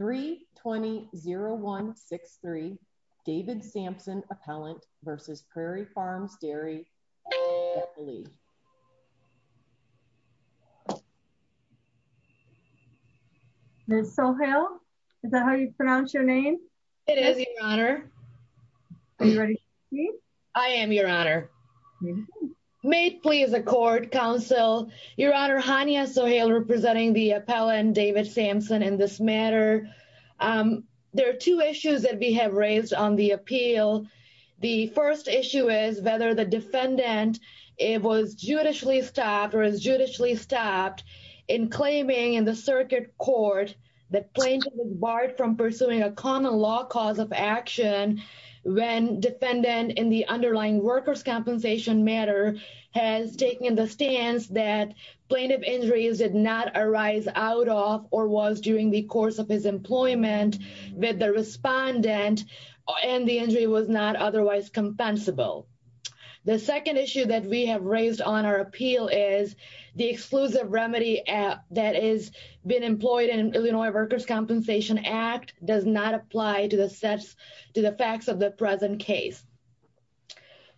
320163 David Sampson Appellant v. Prairie Farms Dairy, Inc. Ms. Sohail, is that how you pronounce your name? It is, Your Honor. Are you ready to speak? I am, Your Honor. May it please the Court, Counsel. Your Honor, Hania Sohail representing the appellant, David Sampson, in this matter. There are two issues that we have raised on the appeal. The first issue is whether the defendant was judicially stopped or is judicially stopped in claiming in the circuit court that plaintiff was barred from pursuing a common law cause of action when defendant in the underlying workers' compensation matter has taken the stance that plaintiff injuries did not arise out of or was during the course of his employment with the respondent and the injury was not otherwise compensable. The second issue that we have raised on our appeal is the exclusive remedy that has been employed in Illinois Workers' Compensation Act does not apply to the facts of the present case.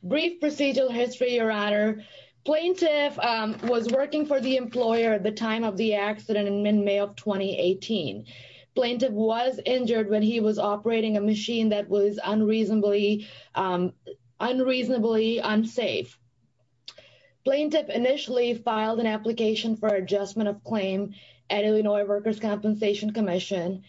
Brief procedural history, Your Honor. Plaintiff was working for the employer at the time of the accident in mid-May of 2018. Plaintiff was injured when he was operating a machine that was unreasonably unsafe. Plaintiff initially filed an application for adjustment of claim at Illinois Workers' Compensation Commission.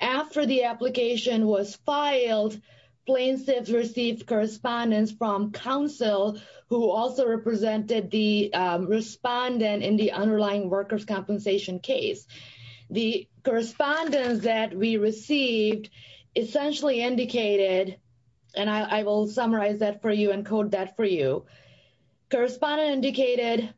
After the application was filed, plaintiff received correspondence from counsel who also represented the respondent in the underlying workers' compensation case. The correspondence that we received essentially indicated, and I will summarize that for you and code that for you, Mr.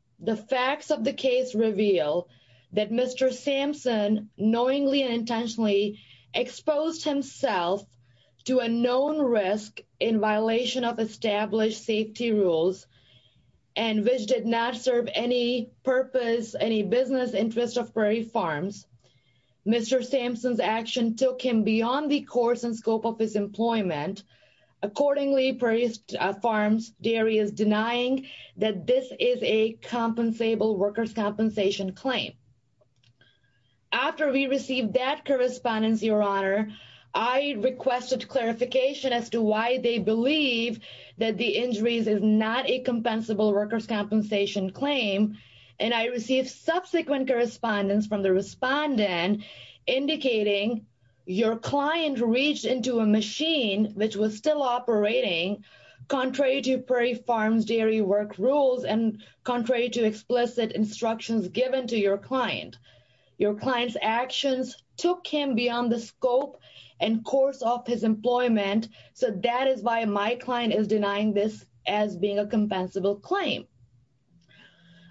Sampson's action took him beyond the course and scope of his employment. Accordingly, Prairie Farms Dairy is denying that this is a compensable workers' compensation claim. After we received that correspondence, Your Honor, I requested clarification as to why they believe that the injuries is not a compensable workers' compensation claim. And I received subsequent correspondence from the respondent indicating your client reached into a machine which was still operating, contrary to Prairie Farms Dairy work rules and contrary to explicit instructions given to your client. Your client's actions took him beyond the scope and course of his employment, so that is why my client is denying this as being a compensable claim.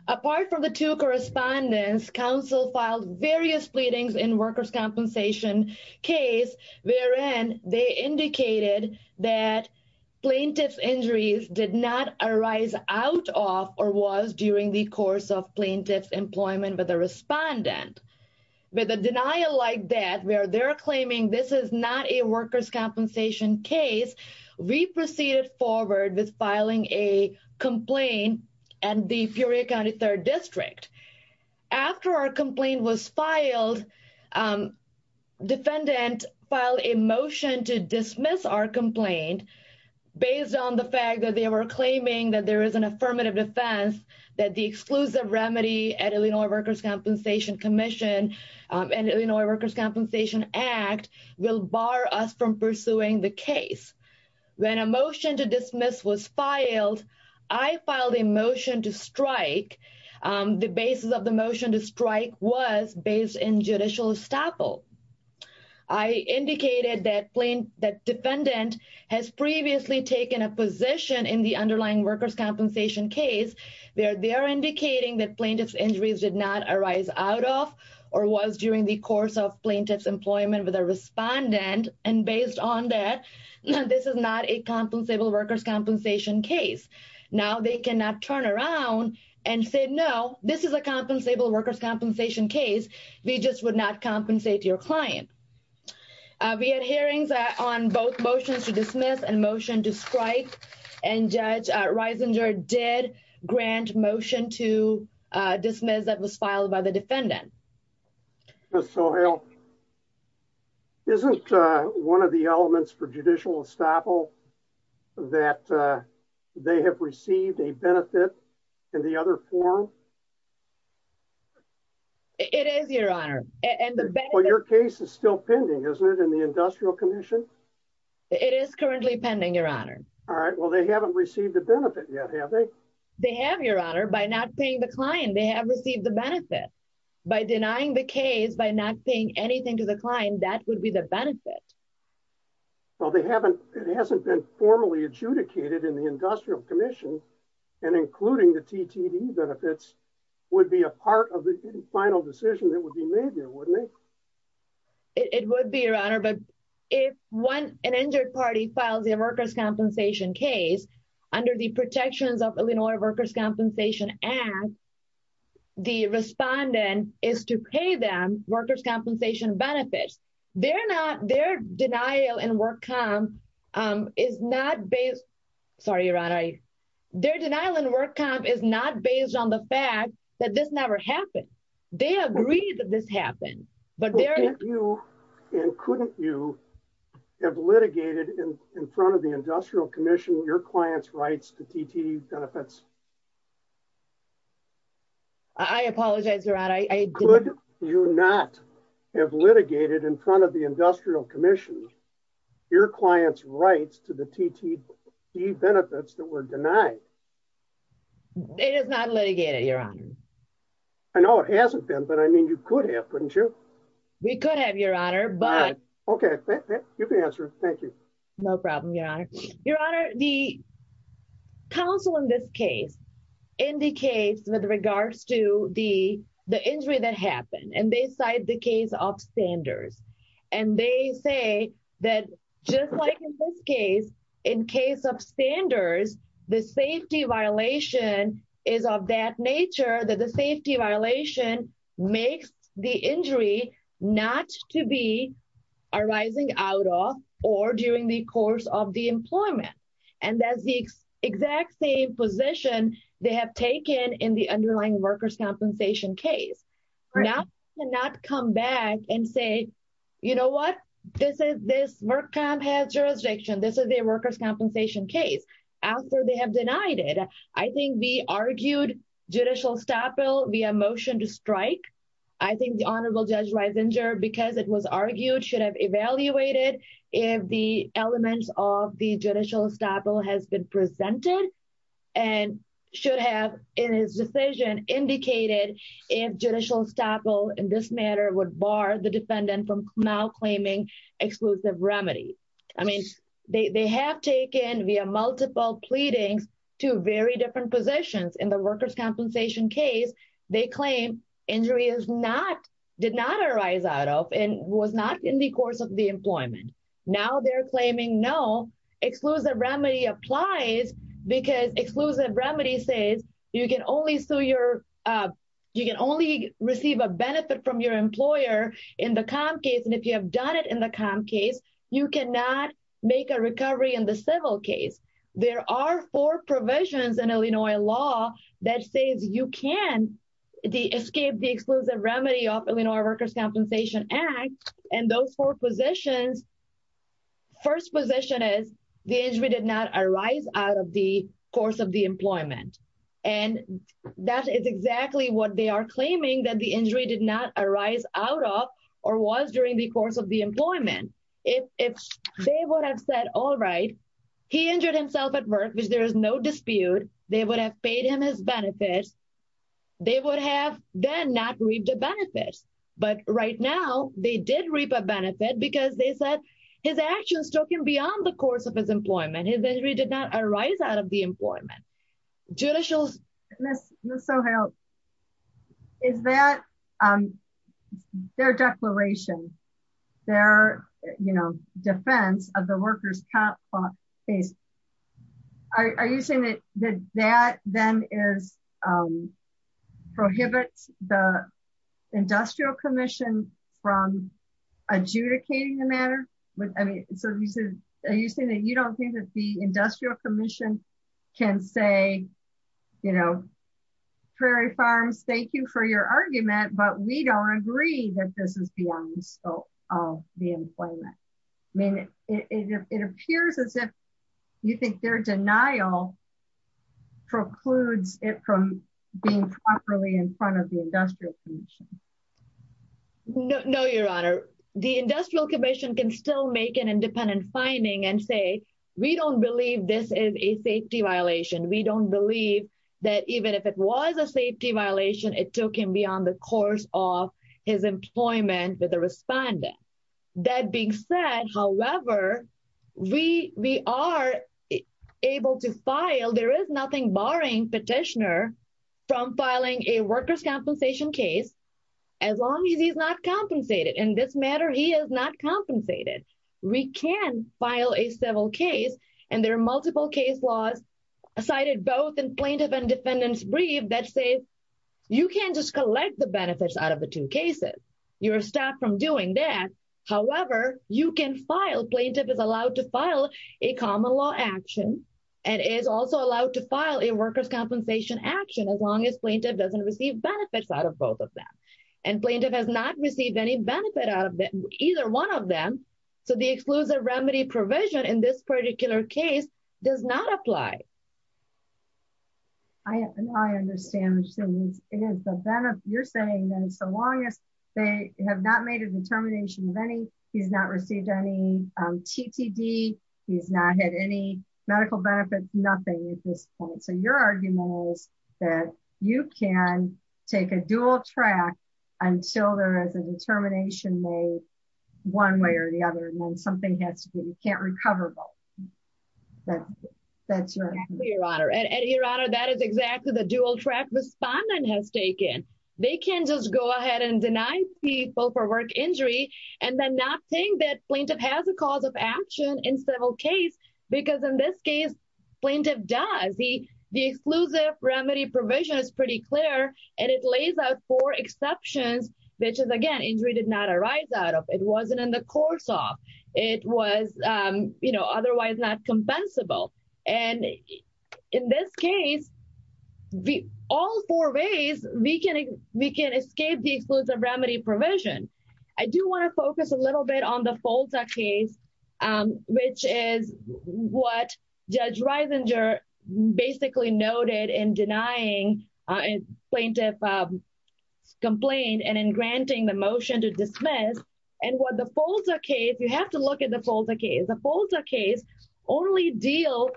Apart from the two correspondence, counsel filed various pleadings in workers' compensation case wherein they indicated that plaintiff's injuries did not arise out of or was during the course of plaintiff's employment with a respondent. With a denial like that, where they're claiming this is not a workers' compensation case, we proceeded forward with filing a complaint at the Furrier County 3rd District. After our complaint was filed, defendant filed a motion to dismiss our complaint based on the fact that they were claiming that there is an affirmative defense, that the exclusive remedy at Illinois Workers' Compensation Commission and Illinois Workers' Compensation Act will bar us from pursuing the case. When a motion to dismiss was filed, I filed a motion to strike. The basis of the motion to strike was based in judicial estoppel. I indicated that defendant has previously taken a position in the underlying workers' compensation case where they are indicating that plaintiff's injuries did not arise out of or was during the course of plaintiff's employment with a respondent. Based on that, this is not a compensable workers' compensation case. Now, they cannot turn around and say, no, this is a compensable workers' compensation case. We just would not compensate your client. We had hearings on both motions to dismiss and motion to strike. Judge Reisinger did grant motion to dismiss that was filed by the defendant. Ms. Sohail, isn't one of the elements for judicial estoppel that they have received a benefit in the other form? It is, Your Honor. Well, your case is still pending, isn't it, in the Industrial Commission? It is currently pending, Your Honor. All right. Well, they haven't received a benefit yet, have they? They have, Your Honor. By not paying the client, they have received the benefit. By denying the case, by not paying anything to the client, that would be the benefit. Well, it hasn't been formally adjudicated in the Industrial Commission, and including the TTD benefits would be a part of the final decision that would be made here, wouldn't it? It would be, Your Honor. But if an injured party files their workers' compensation case under the Protections of Illinois Workers' Compensation Act, the respondent is to pay them workers' compensation benefits. Their denial in work comp is not based on the fact that this never happened. They agree that this happened, but they're... Couldn't you and couldn't you have litigated in front of the Industrial Commission your clients' rights to TTD benefits? I apologize, Your Honor, I didn't... Could you not have litigated in front of the Industrial Commission your clients' rights to the TTD benefits that were denied? It is not litigated, Your Honor. I know it hasn't been, but I mean, you could have, couldn't you? We could have, Your Honor, but... Okay, you can answer. Thank you. No problem, Your Honor. Your Honor, the counsel in this case indicates with regards to the injury that happened, and they cite the case of Sanders. And they say that just like in this case, in case of Sanders, the safety violation is of that nature, that the safety violation makes the injury not to be arising out of or during the course of the employment. And that's the exact same position they have taken in the underlying workers' compensation case. Now they cannot come back and say, you know what, this work comp has jurisdiction, this is a workers' compensation case, after they have denied it. I think we argued judicial estoppel via motion to strike. I think the Honorable Judge Riesinger, because it was argued, should have evaluated if the elements of the judicial estoppel has been presented, and should have, in his decision, indicated if judicial estoppel in this matter would bar the defendant from now claiming exclusive remedy. I mean, they have taken, via multiple pleadings, two very different positions. In the workers' compensation case, they claim injury is not, did not arise out of, and was not in the course of the employment. Now they're claiming no, exclusive remedy applies, because exclusive remedy says you can only receive a benefit from your employer in the comp case, and if you have done it in the comp case, you cannot make a recovery in the civil case. There are four provisions in Illinois law that says you can escape the exclusive remedy of Illinois Workers' Compensation Act, and those four positions, first position is, the injury did not arise out of the course of the employment. And that is exactly what they are claiming, that the injury did not arise out of, or was during the course of the employment. If they would have said, all right, he injured himself at work, which there is no dispute, they would have paid him his benefits, they would have then not reaped the benefits. But right now, they did reap a benefit because they said his actions took him beyond the course of his employment, his injury did not arise out of the employment. Judicial... Ms. Sohail, is that, their declaration, their, you know, defense of the workers' comp case, are you saying that that then is, prohibits the Industrial Commission from adjudicating the matter? Are you saying that you don't think that the Industrial Commission can say, you know, Prairie Farms, thank you for your argument, but we don't agree that this is beyond the scope of the employment? I mean, it appears as if you think their denial precludes it from being properly in front of the Industrial Commission. No, Your Honor. The Industrial Commission can still make an independent finding and say, we don't believe this is a safety violation. We don't believe that even if it was a safety violation, it took him beyond the course of his employment with the respondent. That being said, however, we are able to file, there is nothing barring petitioner from filing a workers' compensation case, as long as he's not compensated. In this matter, he is not compensated. We can file a civil case, and there are multiple case laws cited both in plaintiff and defendant's brief that say, you can't just collect the benefits out of the two cases. You're stopped from doing that. However, you can file, plaintiff is allowed to file a common law action, and is also allowed to file a workers' compensation action, as long as plaintiff doesn't receive benefits out of both of them. And plaintiff has not received any benefit out of either one of them, so the exclusive remedy provision in this particular case does not apply. I understand what you're saying, as long as they have not made a determination of any, he's not received any TTD, he's not had any medical benefits, nothing at this point. So your argument is that you can take a dual track until there is a determination made, one way or the other, and then something has to be, you can't recover both. That's right, Your Honor. And Your Honor, that is exactly the dual track respondent has taken. They can't just go ahead and deny people for work injury, and then not think that plaintiff has a cause of action in civil case, because in this case, plaintiff does. The exclusive remedy provision is pretty clear, and it lays out four exceptions, which is, again, injury did not arise out of, it wasn't in the course of, it was otherwise not compensable. And in this case, all four ways, we can escape the exclusive remedy provision. I do want to focus a little bit on the FOLTA case, which is what Judge Reisinger basically noted in denying plaintiff complaint and in granting the motion to dismiss. And what the FOLTA case, you have to look at the FOLTA case, the FOLTA case only deals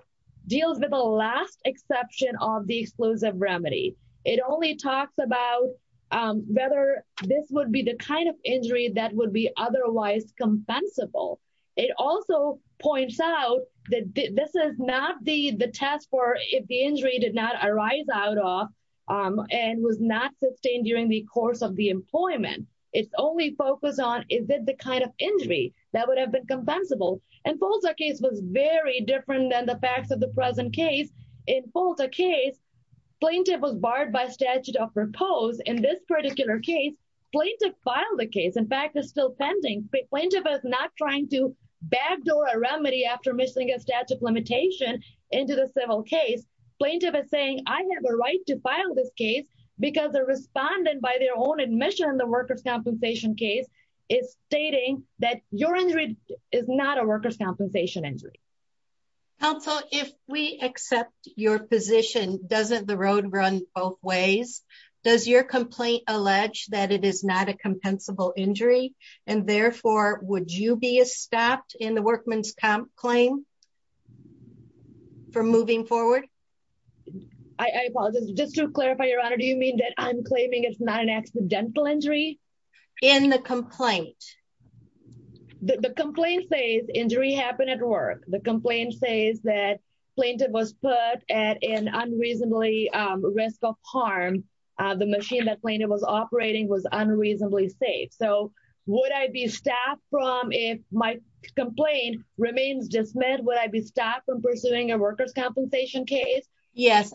with the last exception of the exclusive remedy. It only talks about whether this would be the kind of injury that would be otherwise compensable. It also points out that this is not the test for if the injury did not arise out of and was not sustained during the course of the employment. It's only focused on, is it the kind of injury that would have been compensable? And FOLTA case was very different than the facts of the present case. In FOLTA case, plaintiff was barred by statute of repose. In this particular case, plaintiff filed the case. In fact, it's still pending, but plaintiff is not trying to backdoor a remedy after missing a statute limitation into the civil case. Plaintiff is saying, I have a right to file this case because the respondent by their own admission in the workers' compensation case is stating that your injury is not a workers' compensation injury. Counsel, if we accept your position, doesn't the road run both ways? Does your complaint allege that it is not a compensable injury? And therefore, would you be stopped in the workman's comp claim for moving forward? I apologize. Just to clarify, Your Honor, do you mean that I'm claiming it's not an accidental injury? In the complaint. The complaint says injury happened at work. The complaint says that plaintiff was put at an unreasonably risk of harm. The machine that plaintiff was operating was unreasonably safe. So would I be stopped from if my complaint remains dismissed? Would I be stopped from pursuing a workers' compensation case? Yes.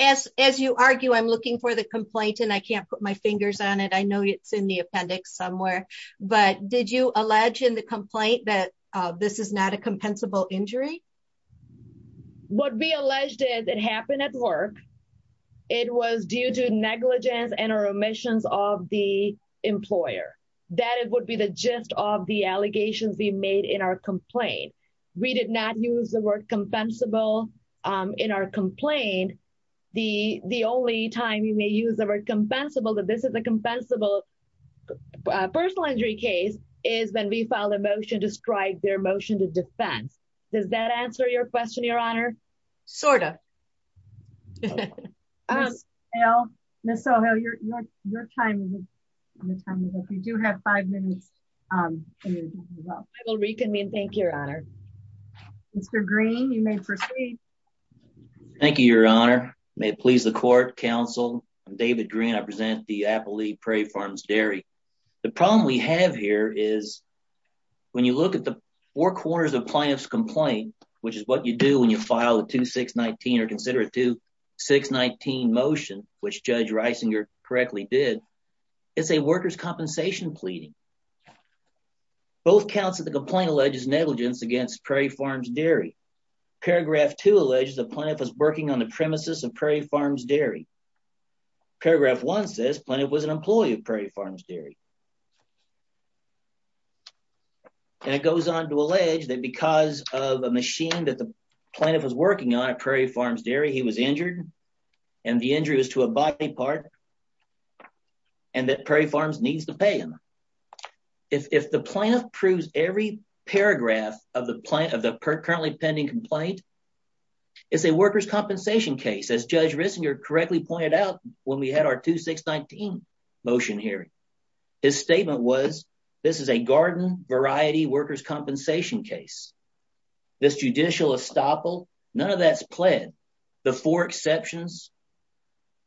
As you argue, I'm looking for the complaint and I can't put my fingers on it. I know it's in the appendix somewhere. But did you allege in the complaint that this is not a compensable injury? What we alleged is it happened at work. It was due to negligence and or omissions of the employer. That would be the gist of the allegations we made in our complaint. We did not use the word compensable in our complaint. The only time you may use the word compensable, that this is a compensable personal injury case, is when we filed a motion to strike their motion to defense. Does that answer your question, Your Honor? Sort of. Ms. O'Hale, your time is up. You do have five minutes. I will reconvene. Thank you, Your Honor. Mr. Green, you may proceed. Thank you, Your Honor. May it please the court, counsel. I'm David Green. I present the appellee, Prairie Farms Dairy. The problem we have here is when you look at the four corners of the plaintiff's complaint, which is what you do when you file a 2-6-19 or consider a 2-6-19 motion, which Judge Reisinger correctly did, it's a workers' compensation pleading. Both counts of the complaint allege negligence against Prairie Farms Dairy. Paragraph 2 alleges the plaintiff was working on the premises of Prairie Farms Dairy. Paragraph 1 says the plaintiff was an employee of Prairie Farms Dairy. And it goes on to allege that because of a machine that the plaintiff was working on at Prairie Farms Dairy, he was injured, and the injury was to a body part, and that Prairie Farms needs to pay him. If the plaintiff proves every paragraph of the currently pending complaint, it's a workers' compensation case, as Judge Reisinger correctly pointed out when we had our 2-6-19 motion hearing. His statement was this is a garden variety workers' compensation case. This judicial estoppel, none of that's pled. The four exceptions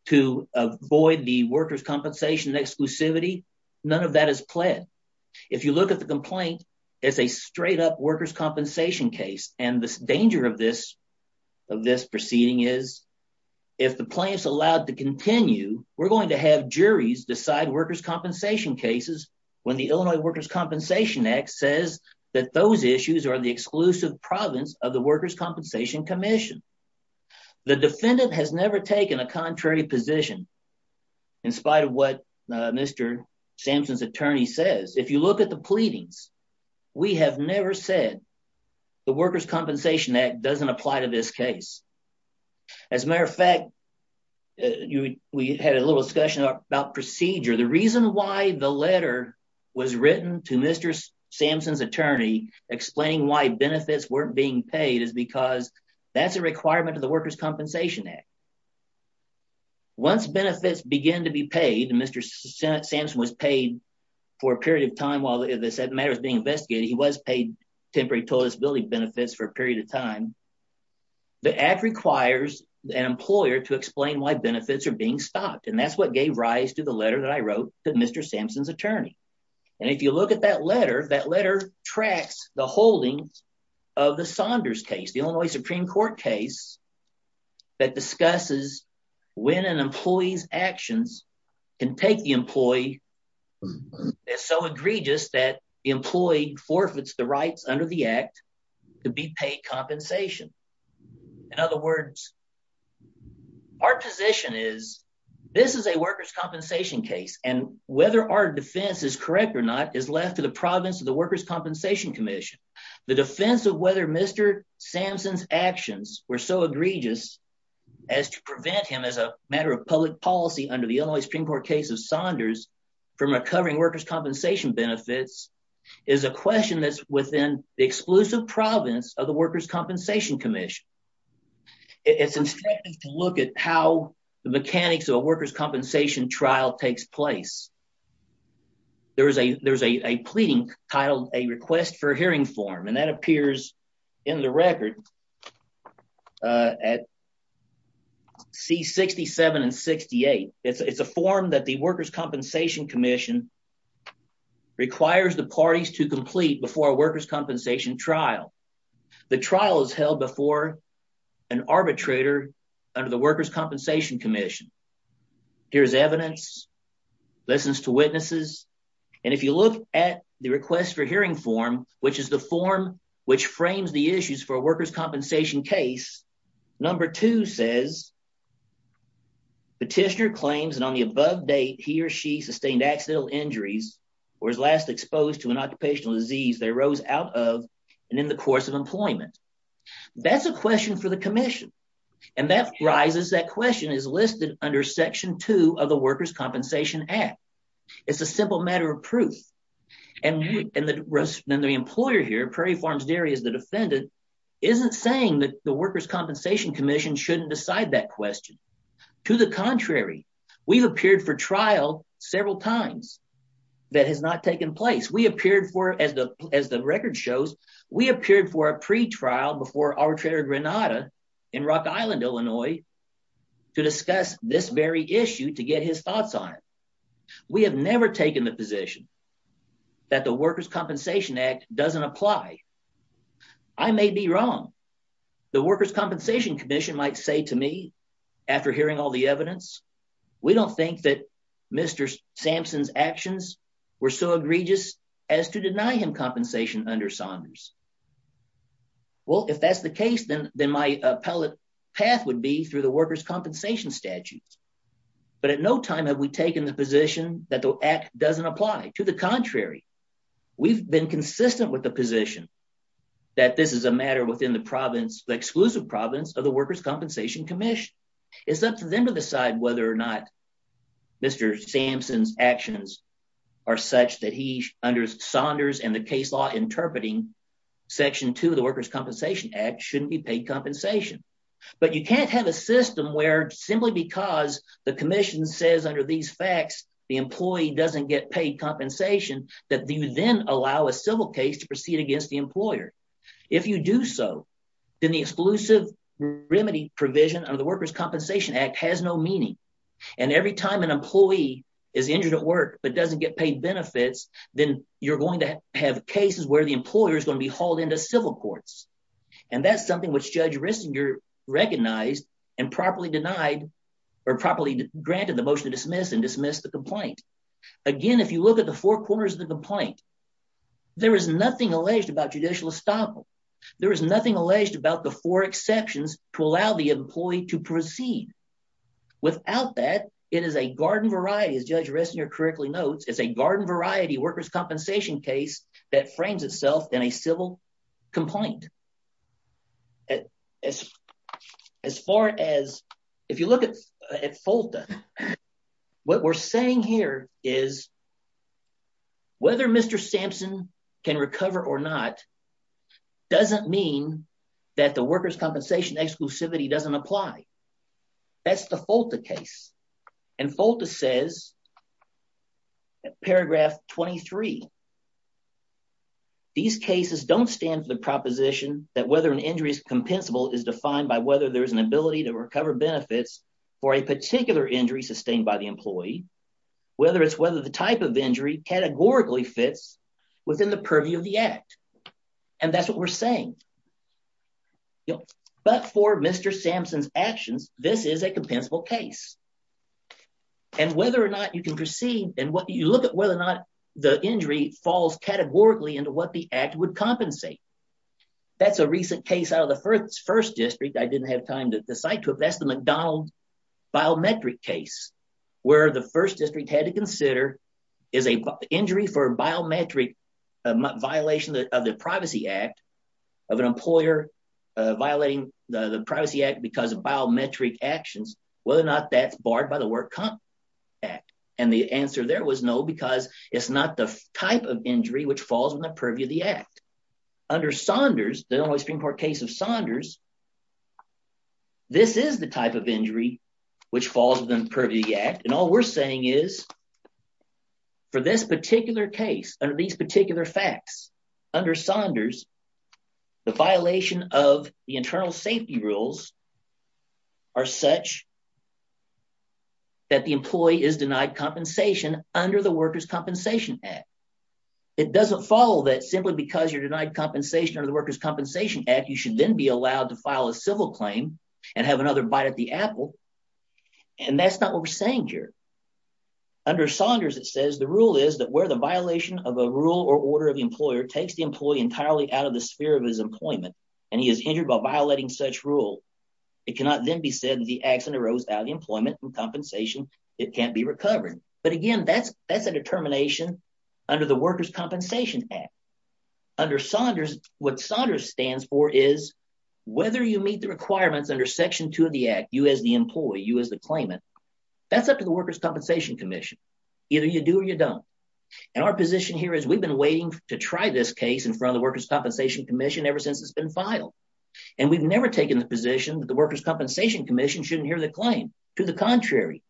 to avoid the workers' compensation exclusivity, none of that is pled. If you look at the complaint, it's a straight-up workers' compensation case, and the danger of this proceeding is if the plaintiff's allowed to continue, we're going to have juries decide workers' compensation cases when the Illinois Workers' Compensation Act says that those issues are the exclusive province of the Workers' Compensation Commission. The defendant has never taken a contrary position in spite of what Mr. Sampson's attorney says. If you look at the pleadings, we have never said the Workers' Compensation Act doesn't apply to this case. As a matter of fact, we had a little discussion about procedure. The reason why the letter was written to Mr. Sampson's attorney explaining why benefits weren't being paid is because that's a requirement of the Workers' Compensation Act. Once benefits begin to be paid, and Mr. Sampson was paid for a period of time while this matter was being investigated, he was paid temporary toilettability benefits for a period of time, the act requires an employer to explain why benefits are being stopped, and that's what gave rise to the letter that I wrote to Mr. Sampson's attorney. And if you look at that letter, that letter tracks the holdings of the Saunders case, the Illinois Supreme Court case that discusses when an employee's actions can take the employee that's so egregious that the employee forfeits the rights under the act to be paid compensation. In other words, our position is this is a workers' compensation case, and whether our defense is correct or not is left to the province of the Workers' Compensation Commission. The defense of whether Mr. Sampson's actions were so egregious as to prevent him as a matter of public policy under the Illinois Supreme Court case of Saunders from recovering workers' compensation benefits is a question that's within the exclusive province of the Workers' Compensation Commission. It's instructive to look at how the mechanics of a workers' compensation trial takes place. There is a there's a pleading titled a request for hearing form, and that appears in the record at C67 and 68. It's a form that the Workers' Compensation Commission requires the parties to complete before a workers' compensation trial. The trial is held before an arbitrator under the Workers' Compensation Commission. Here's evidence, listens to witnesses. And if you look at the request for hearing form, which is the form which frames the issues for workers' compensation case, number two says Petitioner claims that on the above date he or she sustained accidental injuries or was last exposed to an occupational disease that arose out of and in the course of employment. That's a question for the commission. And that rises, that question is listed under section two of the Workers' Compensation Act. And the employer here, Prairie Farms Dairy is the defendant, isn't saying that the Workers' Compensation Commission shouldn't decide that question. To the contrary, we've appeared for trial several times that has not taken place. We appeared for, as the record shows, we appeared for a pretrial before arbitrator Granada in Rock Island, Illinois, to discuss this very issue to get his thoughts on it. We have never taken the position that the Workers' Compensation Act doesn't apply. I may be wrong. The Workers' Compensation Commission might say to me after hearing all the evidence, we don't think that Mr. Sampson's actions were so egregious as to deny him compensation under Saunders. Well, if that's the case, then then my appellate path would be through the workers' compensation statute. But at no time have we taken the position that the act doesn't apply. To the contrary, we've been consistent with the position that this is a matter within the province, the exclusive province of the Workers' Compensation Commission. It's up to them to decide whether or not Mr. Sampson's actions are such that he, under Saunders and the case law interpreting section two of the Workers' Compensation Act, shouldn't be paid compensation. But you can't have a system where simply because the commission says under these facts, the employee doesn't get paid compensation, that you then allow a civil case to proceed against the employer. If you do so, then the exclusive remedy provision of the Workers' Compensation Act has no meaning. And every time an employee is injured at work but doesn't get paid benefits, then you're going to have cases where the employer is going to be hauled into civil courts. And that's something which Judge Rissinger recognized and properly denied or properly granted the motion to dismiss and dismiss the complaint. Again, if you look at the four corners of the complaint, there is nothing alleged about judicial estoppel. There is nothing alleged about the four exceptions to allow the employee to proceed. Without that, it is a garden variety, as Judge Rissinger correctly notes, it's a garden variety workers' compensation case that frames itself in a civil complaint. As far as if you look at FOLTA, what we're saying here is whether Mr. Sampson can recover or not doesn't mean that the workers' compensation exclusivity doesn't apply. That's the FOLTA case. And FOLTA says paragraph 23. These cases don't stand for the proposition that whether an injury is compensable is defined by whether there is an ability to recover benefits for a particular injury sustained by the employee, whether it's whether the type of injury categorically fits within the purview of the act. And that's what we're saying. But for Mr. Sampson's actions, this is a compensable case. And whether or not you can proceed and what you look at, whether or not the injury falls categorically into what the act would compensate. That's a recent case out of the first district. I didn't have time to decide. That's the McDonald biometric case where the first district had to consider is a injury for biometric violation of the Privacy Act of an employer violating the Privacy Act because of biometric actions, whether or not that's barred by the Work Comp Act. And the answer there was no, because it's not the type of injury which falls in the purview of the act. Under Saunders, the Illinois Supreme Court case of Saunders, this is the type of injury which falls within the purview of the act. And all we're saying is for this particular case, under these particular facts, under Saunders, the violation of the internal safety rules are such that the employee is denied compensation under the Workers' Compensation Act. It doesn't follow that simply because you're denied compensation under the Workers' Compensation Act, you should then be allowed to file a civil claim and have another bite at the apple. And that's not what we're saying here. Under Saunders, it says the rule is that where the violation of a rule or order of the employer takes the employee entirely out of the sphere of his employment and he is injured by violating such rule. It cannot then be said that the accident arose out of employment and compensation. It can't be recovered. But again, that's a determination under the Workers' Compensation Act. Under Saunders, what Saunders stands for is whether you meet the requirements under Section 2 of the Act, you as the employee, you as the claimant, that's up to the Workers' Compensation Commission. Either you do or you don't. And our position here is we've been waiting to try this case in front of the Workers' Compensation Commission ever since it's been filed. And we've never taken the position that the Workers' Compensation Commission shouldn't hear the claim. To the contrary.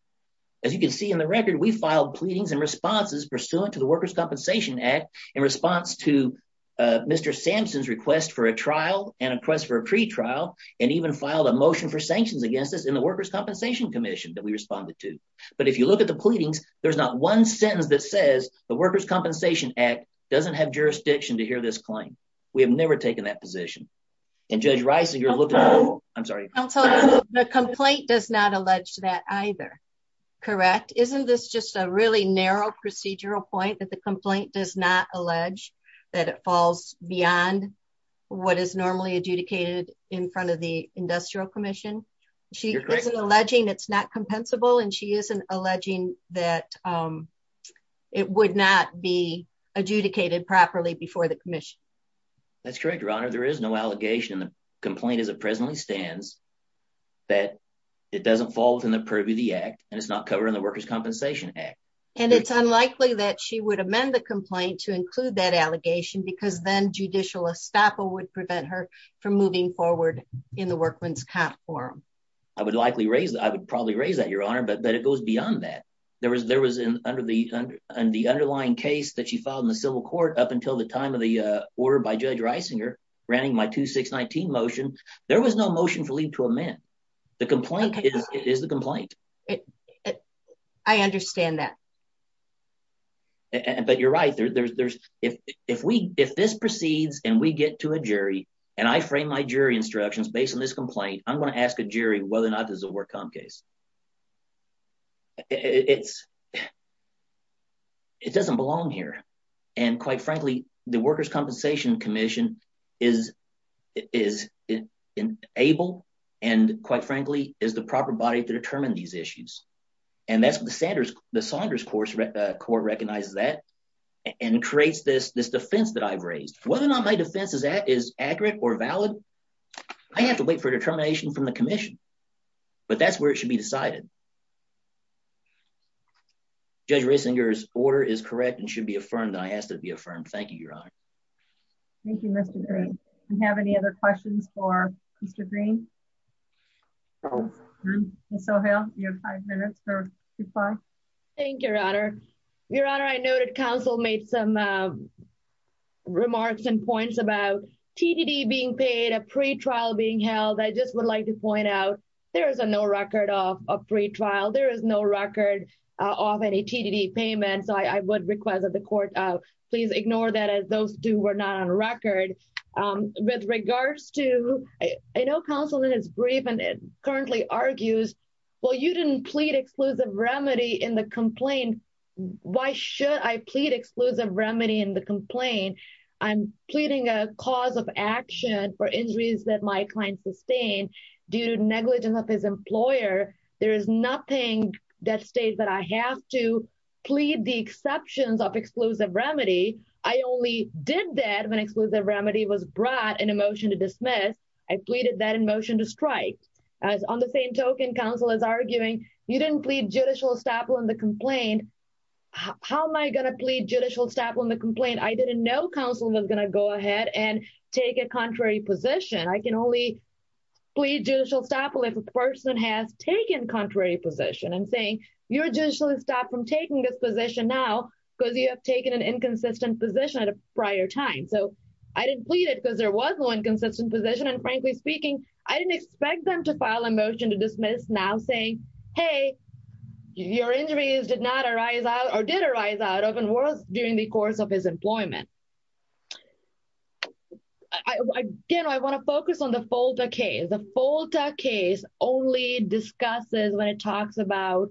As you can see in the record, we filed pleadings and responses pursuant to the Workers' Compensation Act in response to Mr. Sampson's request for a trial and a request for a pretrial and even filed a motion for sanctions against us in the Workers' Compensation Commission that we responded to. But if you look at the pleadings, there's not one sentence that says the Workers' Compensation Act doesn't have jurisdiction to hear this claim. We have never taken that position. And Judge Reisinger looked at that. The complaint does not allege that either. Correct? Isn't this just a really narrow procedural point that the complaint does not allege that it falls beyond what is normally adjudicated in front of the Industrial Commission? She isn't alleging it's not compensable and she isn't alleging that it would not be adjudicated properly before the commission. That's correct, Your Honor. There is no allegation in the complaint as it presently stands that it doesn't fall within the purview of the act and it's not covered in the Workers' Compensation Act. And it's unlikely that she would amend the complaint to include that allegation because then judicial estoppel would prevent her from moving forward in the Workmen's Comp Forum. I would probably raise that, Your Honor, but it goes beyond that. There was in the underlying case that she filed in the civil court up until the time of the order by Judge Reisinger granting my 2619 motion, there was no motion for leave to amend. The complaint is the complaint. I understand that. But you're right. If this proceeds and we get to a jury, and I frame my jury instructions based on this complaint, I'm going to ask a jury whether or not this is a work comp case. It doesn't belong here, and, quite frankly, the Workers' Compensation Commission is able and, quite frankly, is the proper body to determine these issues. And that's what the Saunders Court recognizes that and creates this defense that I've raised. Whether or not my defense is accurate or valid, I have to wait for determination from the commission. But that's where it should be decided. Judge Reisinger's order is correct and should be affirmed, and I ask that it be affirmed. Thank you, Your Honor. Thank you, Mr. Green. Do we have any other questions for Mr. Green? Ms. O'Hale, you have five minutes to reply. Thank you, Your Honor. Your Honor, I know that counsel made some remarks and points about TDD being paid, a pretrial being held. I just would like to point out there is no record of a pretrial. There is no record of any TDD payment, so I would request that the court please ignore that as those two were not on record. With regards to – I know counsel is brief and currently argues, well, you didn't plead exclusive remedy in the complaint. Why should I plead exclusive remedy in the complaint? I'm pleading a cause of action for injuries that my client sustained due to negligence of his employer. There is nothing that states that I have to plead the exceptions of exclusive remedy. I only did that when exclusive remedy was brought in a motion to dismiss. I pleaded that in motion to strike. On the same token, counsel is arguing you didn't plead judicial estoppel in the complaint. How am I going to plead judicial estoppel in the complaint? I didn't know counsel was going to go ahead and take a contrary position. I can only plead judicial estoppel if a person has taken contrary position. I'm saying you're judicially stopped from taking this position now because you have taken an inconsistent position at a prior time. I didn't plead it because there was no inconsistent position, and frankly speaking, I didn't expect them to file a motion to dismiss now saying, hey, your injuries did arise out of and was during the course of his employment. Again, I want to focus on the FOLTA case. The FOLTA case only discusses when it talks about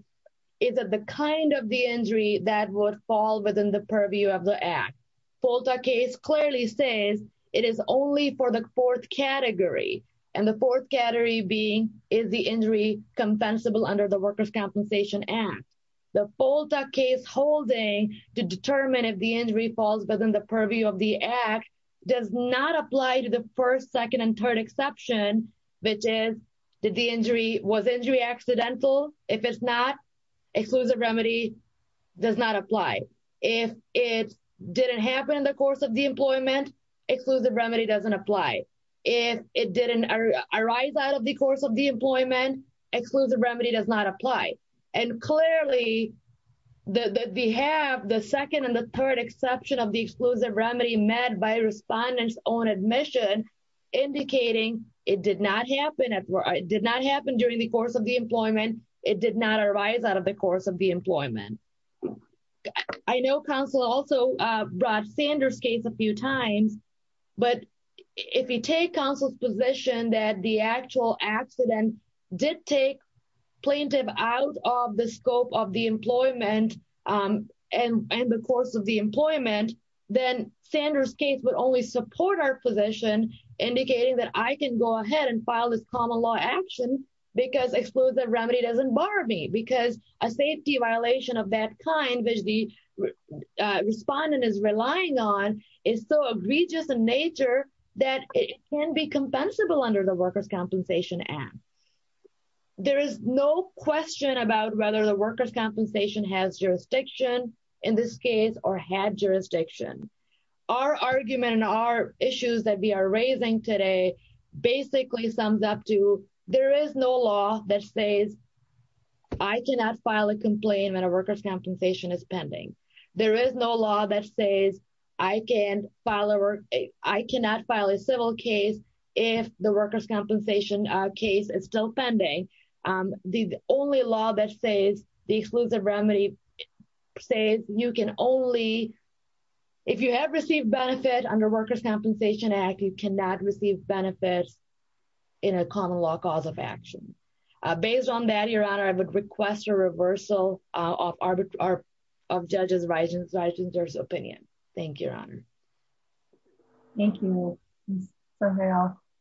is it the kind of the injury that would fall within the purview of the act. FOLTA case clearly says it is only for the fourth category, and the fourth category being is the injury compensable under the workers' compensation act. The FOLTA case holding to determine if the injury falls within the purview of the act does not apply to the first, second, and third exception, which is, did the injury, was injury accidental? If it's not, exclusive remedy does not apply. If it didn't happen in the course of the employment, exclusive remedy doesn't apply. If it didn't arise out of the course of the employment, exclusive remedy does not apply. And clearly, we have the second and the third exception of the exclusive remedy met by respondents on admission indicating it did not happen during the course of the employment. It did not arise out of the course of the employment. I know counsel also brought Sanders case a few times, but if you take counsel's position that the actual accident did take plaintiff out of the scope of the employment and the course of the employment, then Sanders case would only support our position indicating that I can go ahead and file this common law action because exclusive remedy doesn't bar me because a safety violation of that kind, which the respondent is relying on, is so egregious in nature that it can be compensable under the workers' compensation act. There is no question about whether the workers' compensation has jurisdiction in this case or had jurisdiction. Our argument and our issues that we are raising today basically sums up to there is no law that says I cannot file a complaint when a workers' compensation is pending. There is no law that says I cannot file a civil case if the workers' compensation case is still pending. The only law that says the exclusive remedy says you can only, if you have received benefit under workers' compensation act, you cannot receive benefits in a common law cause of action. Based on that, Your Honor, I would request a reversal of our judges' opinion. Thank you, Your Honor. Thank you.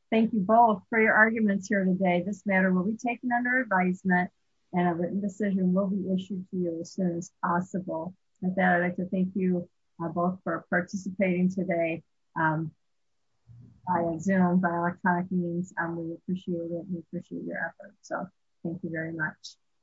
Thank you both for your arguments here today. This matter will be taken under advisement and a written decision will be issued to you as soon as possible. With that, I would like to thank you both for participating today via Zoom, via electronic means. We appreciate it. We appreciate your effort. Thank you very much.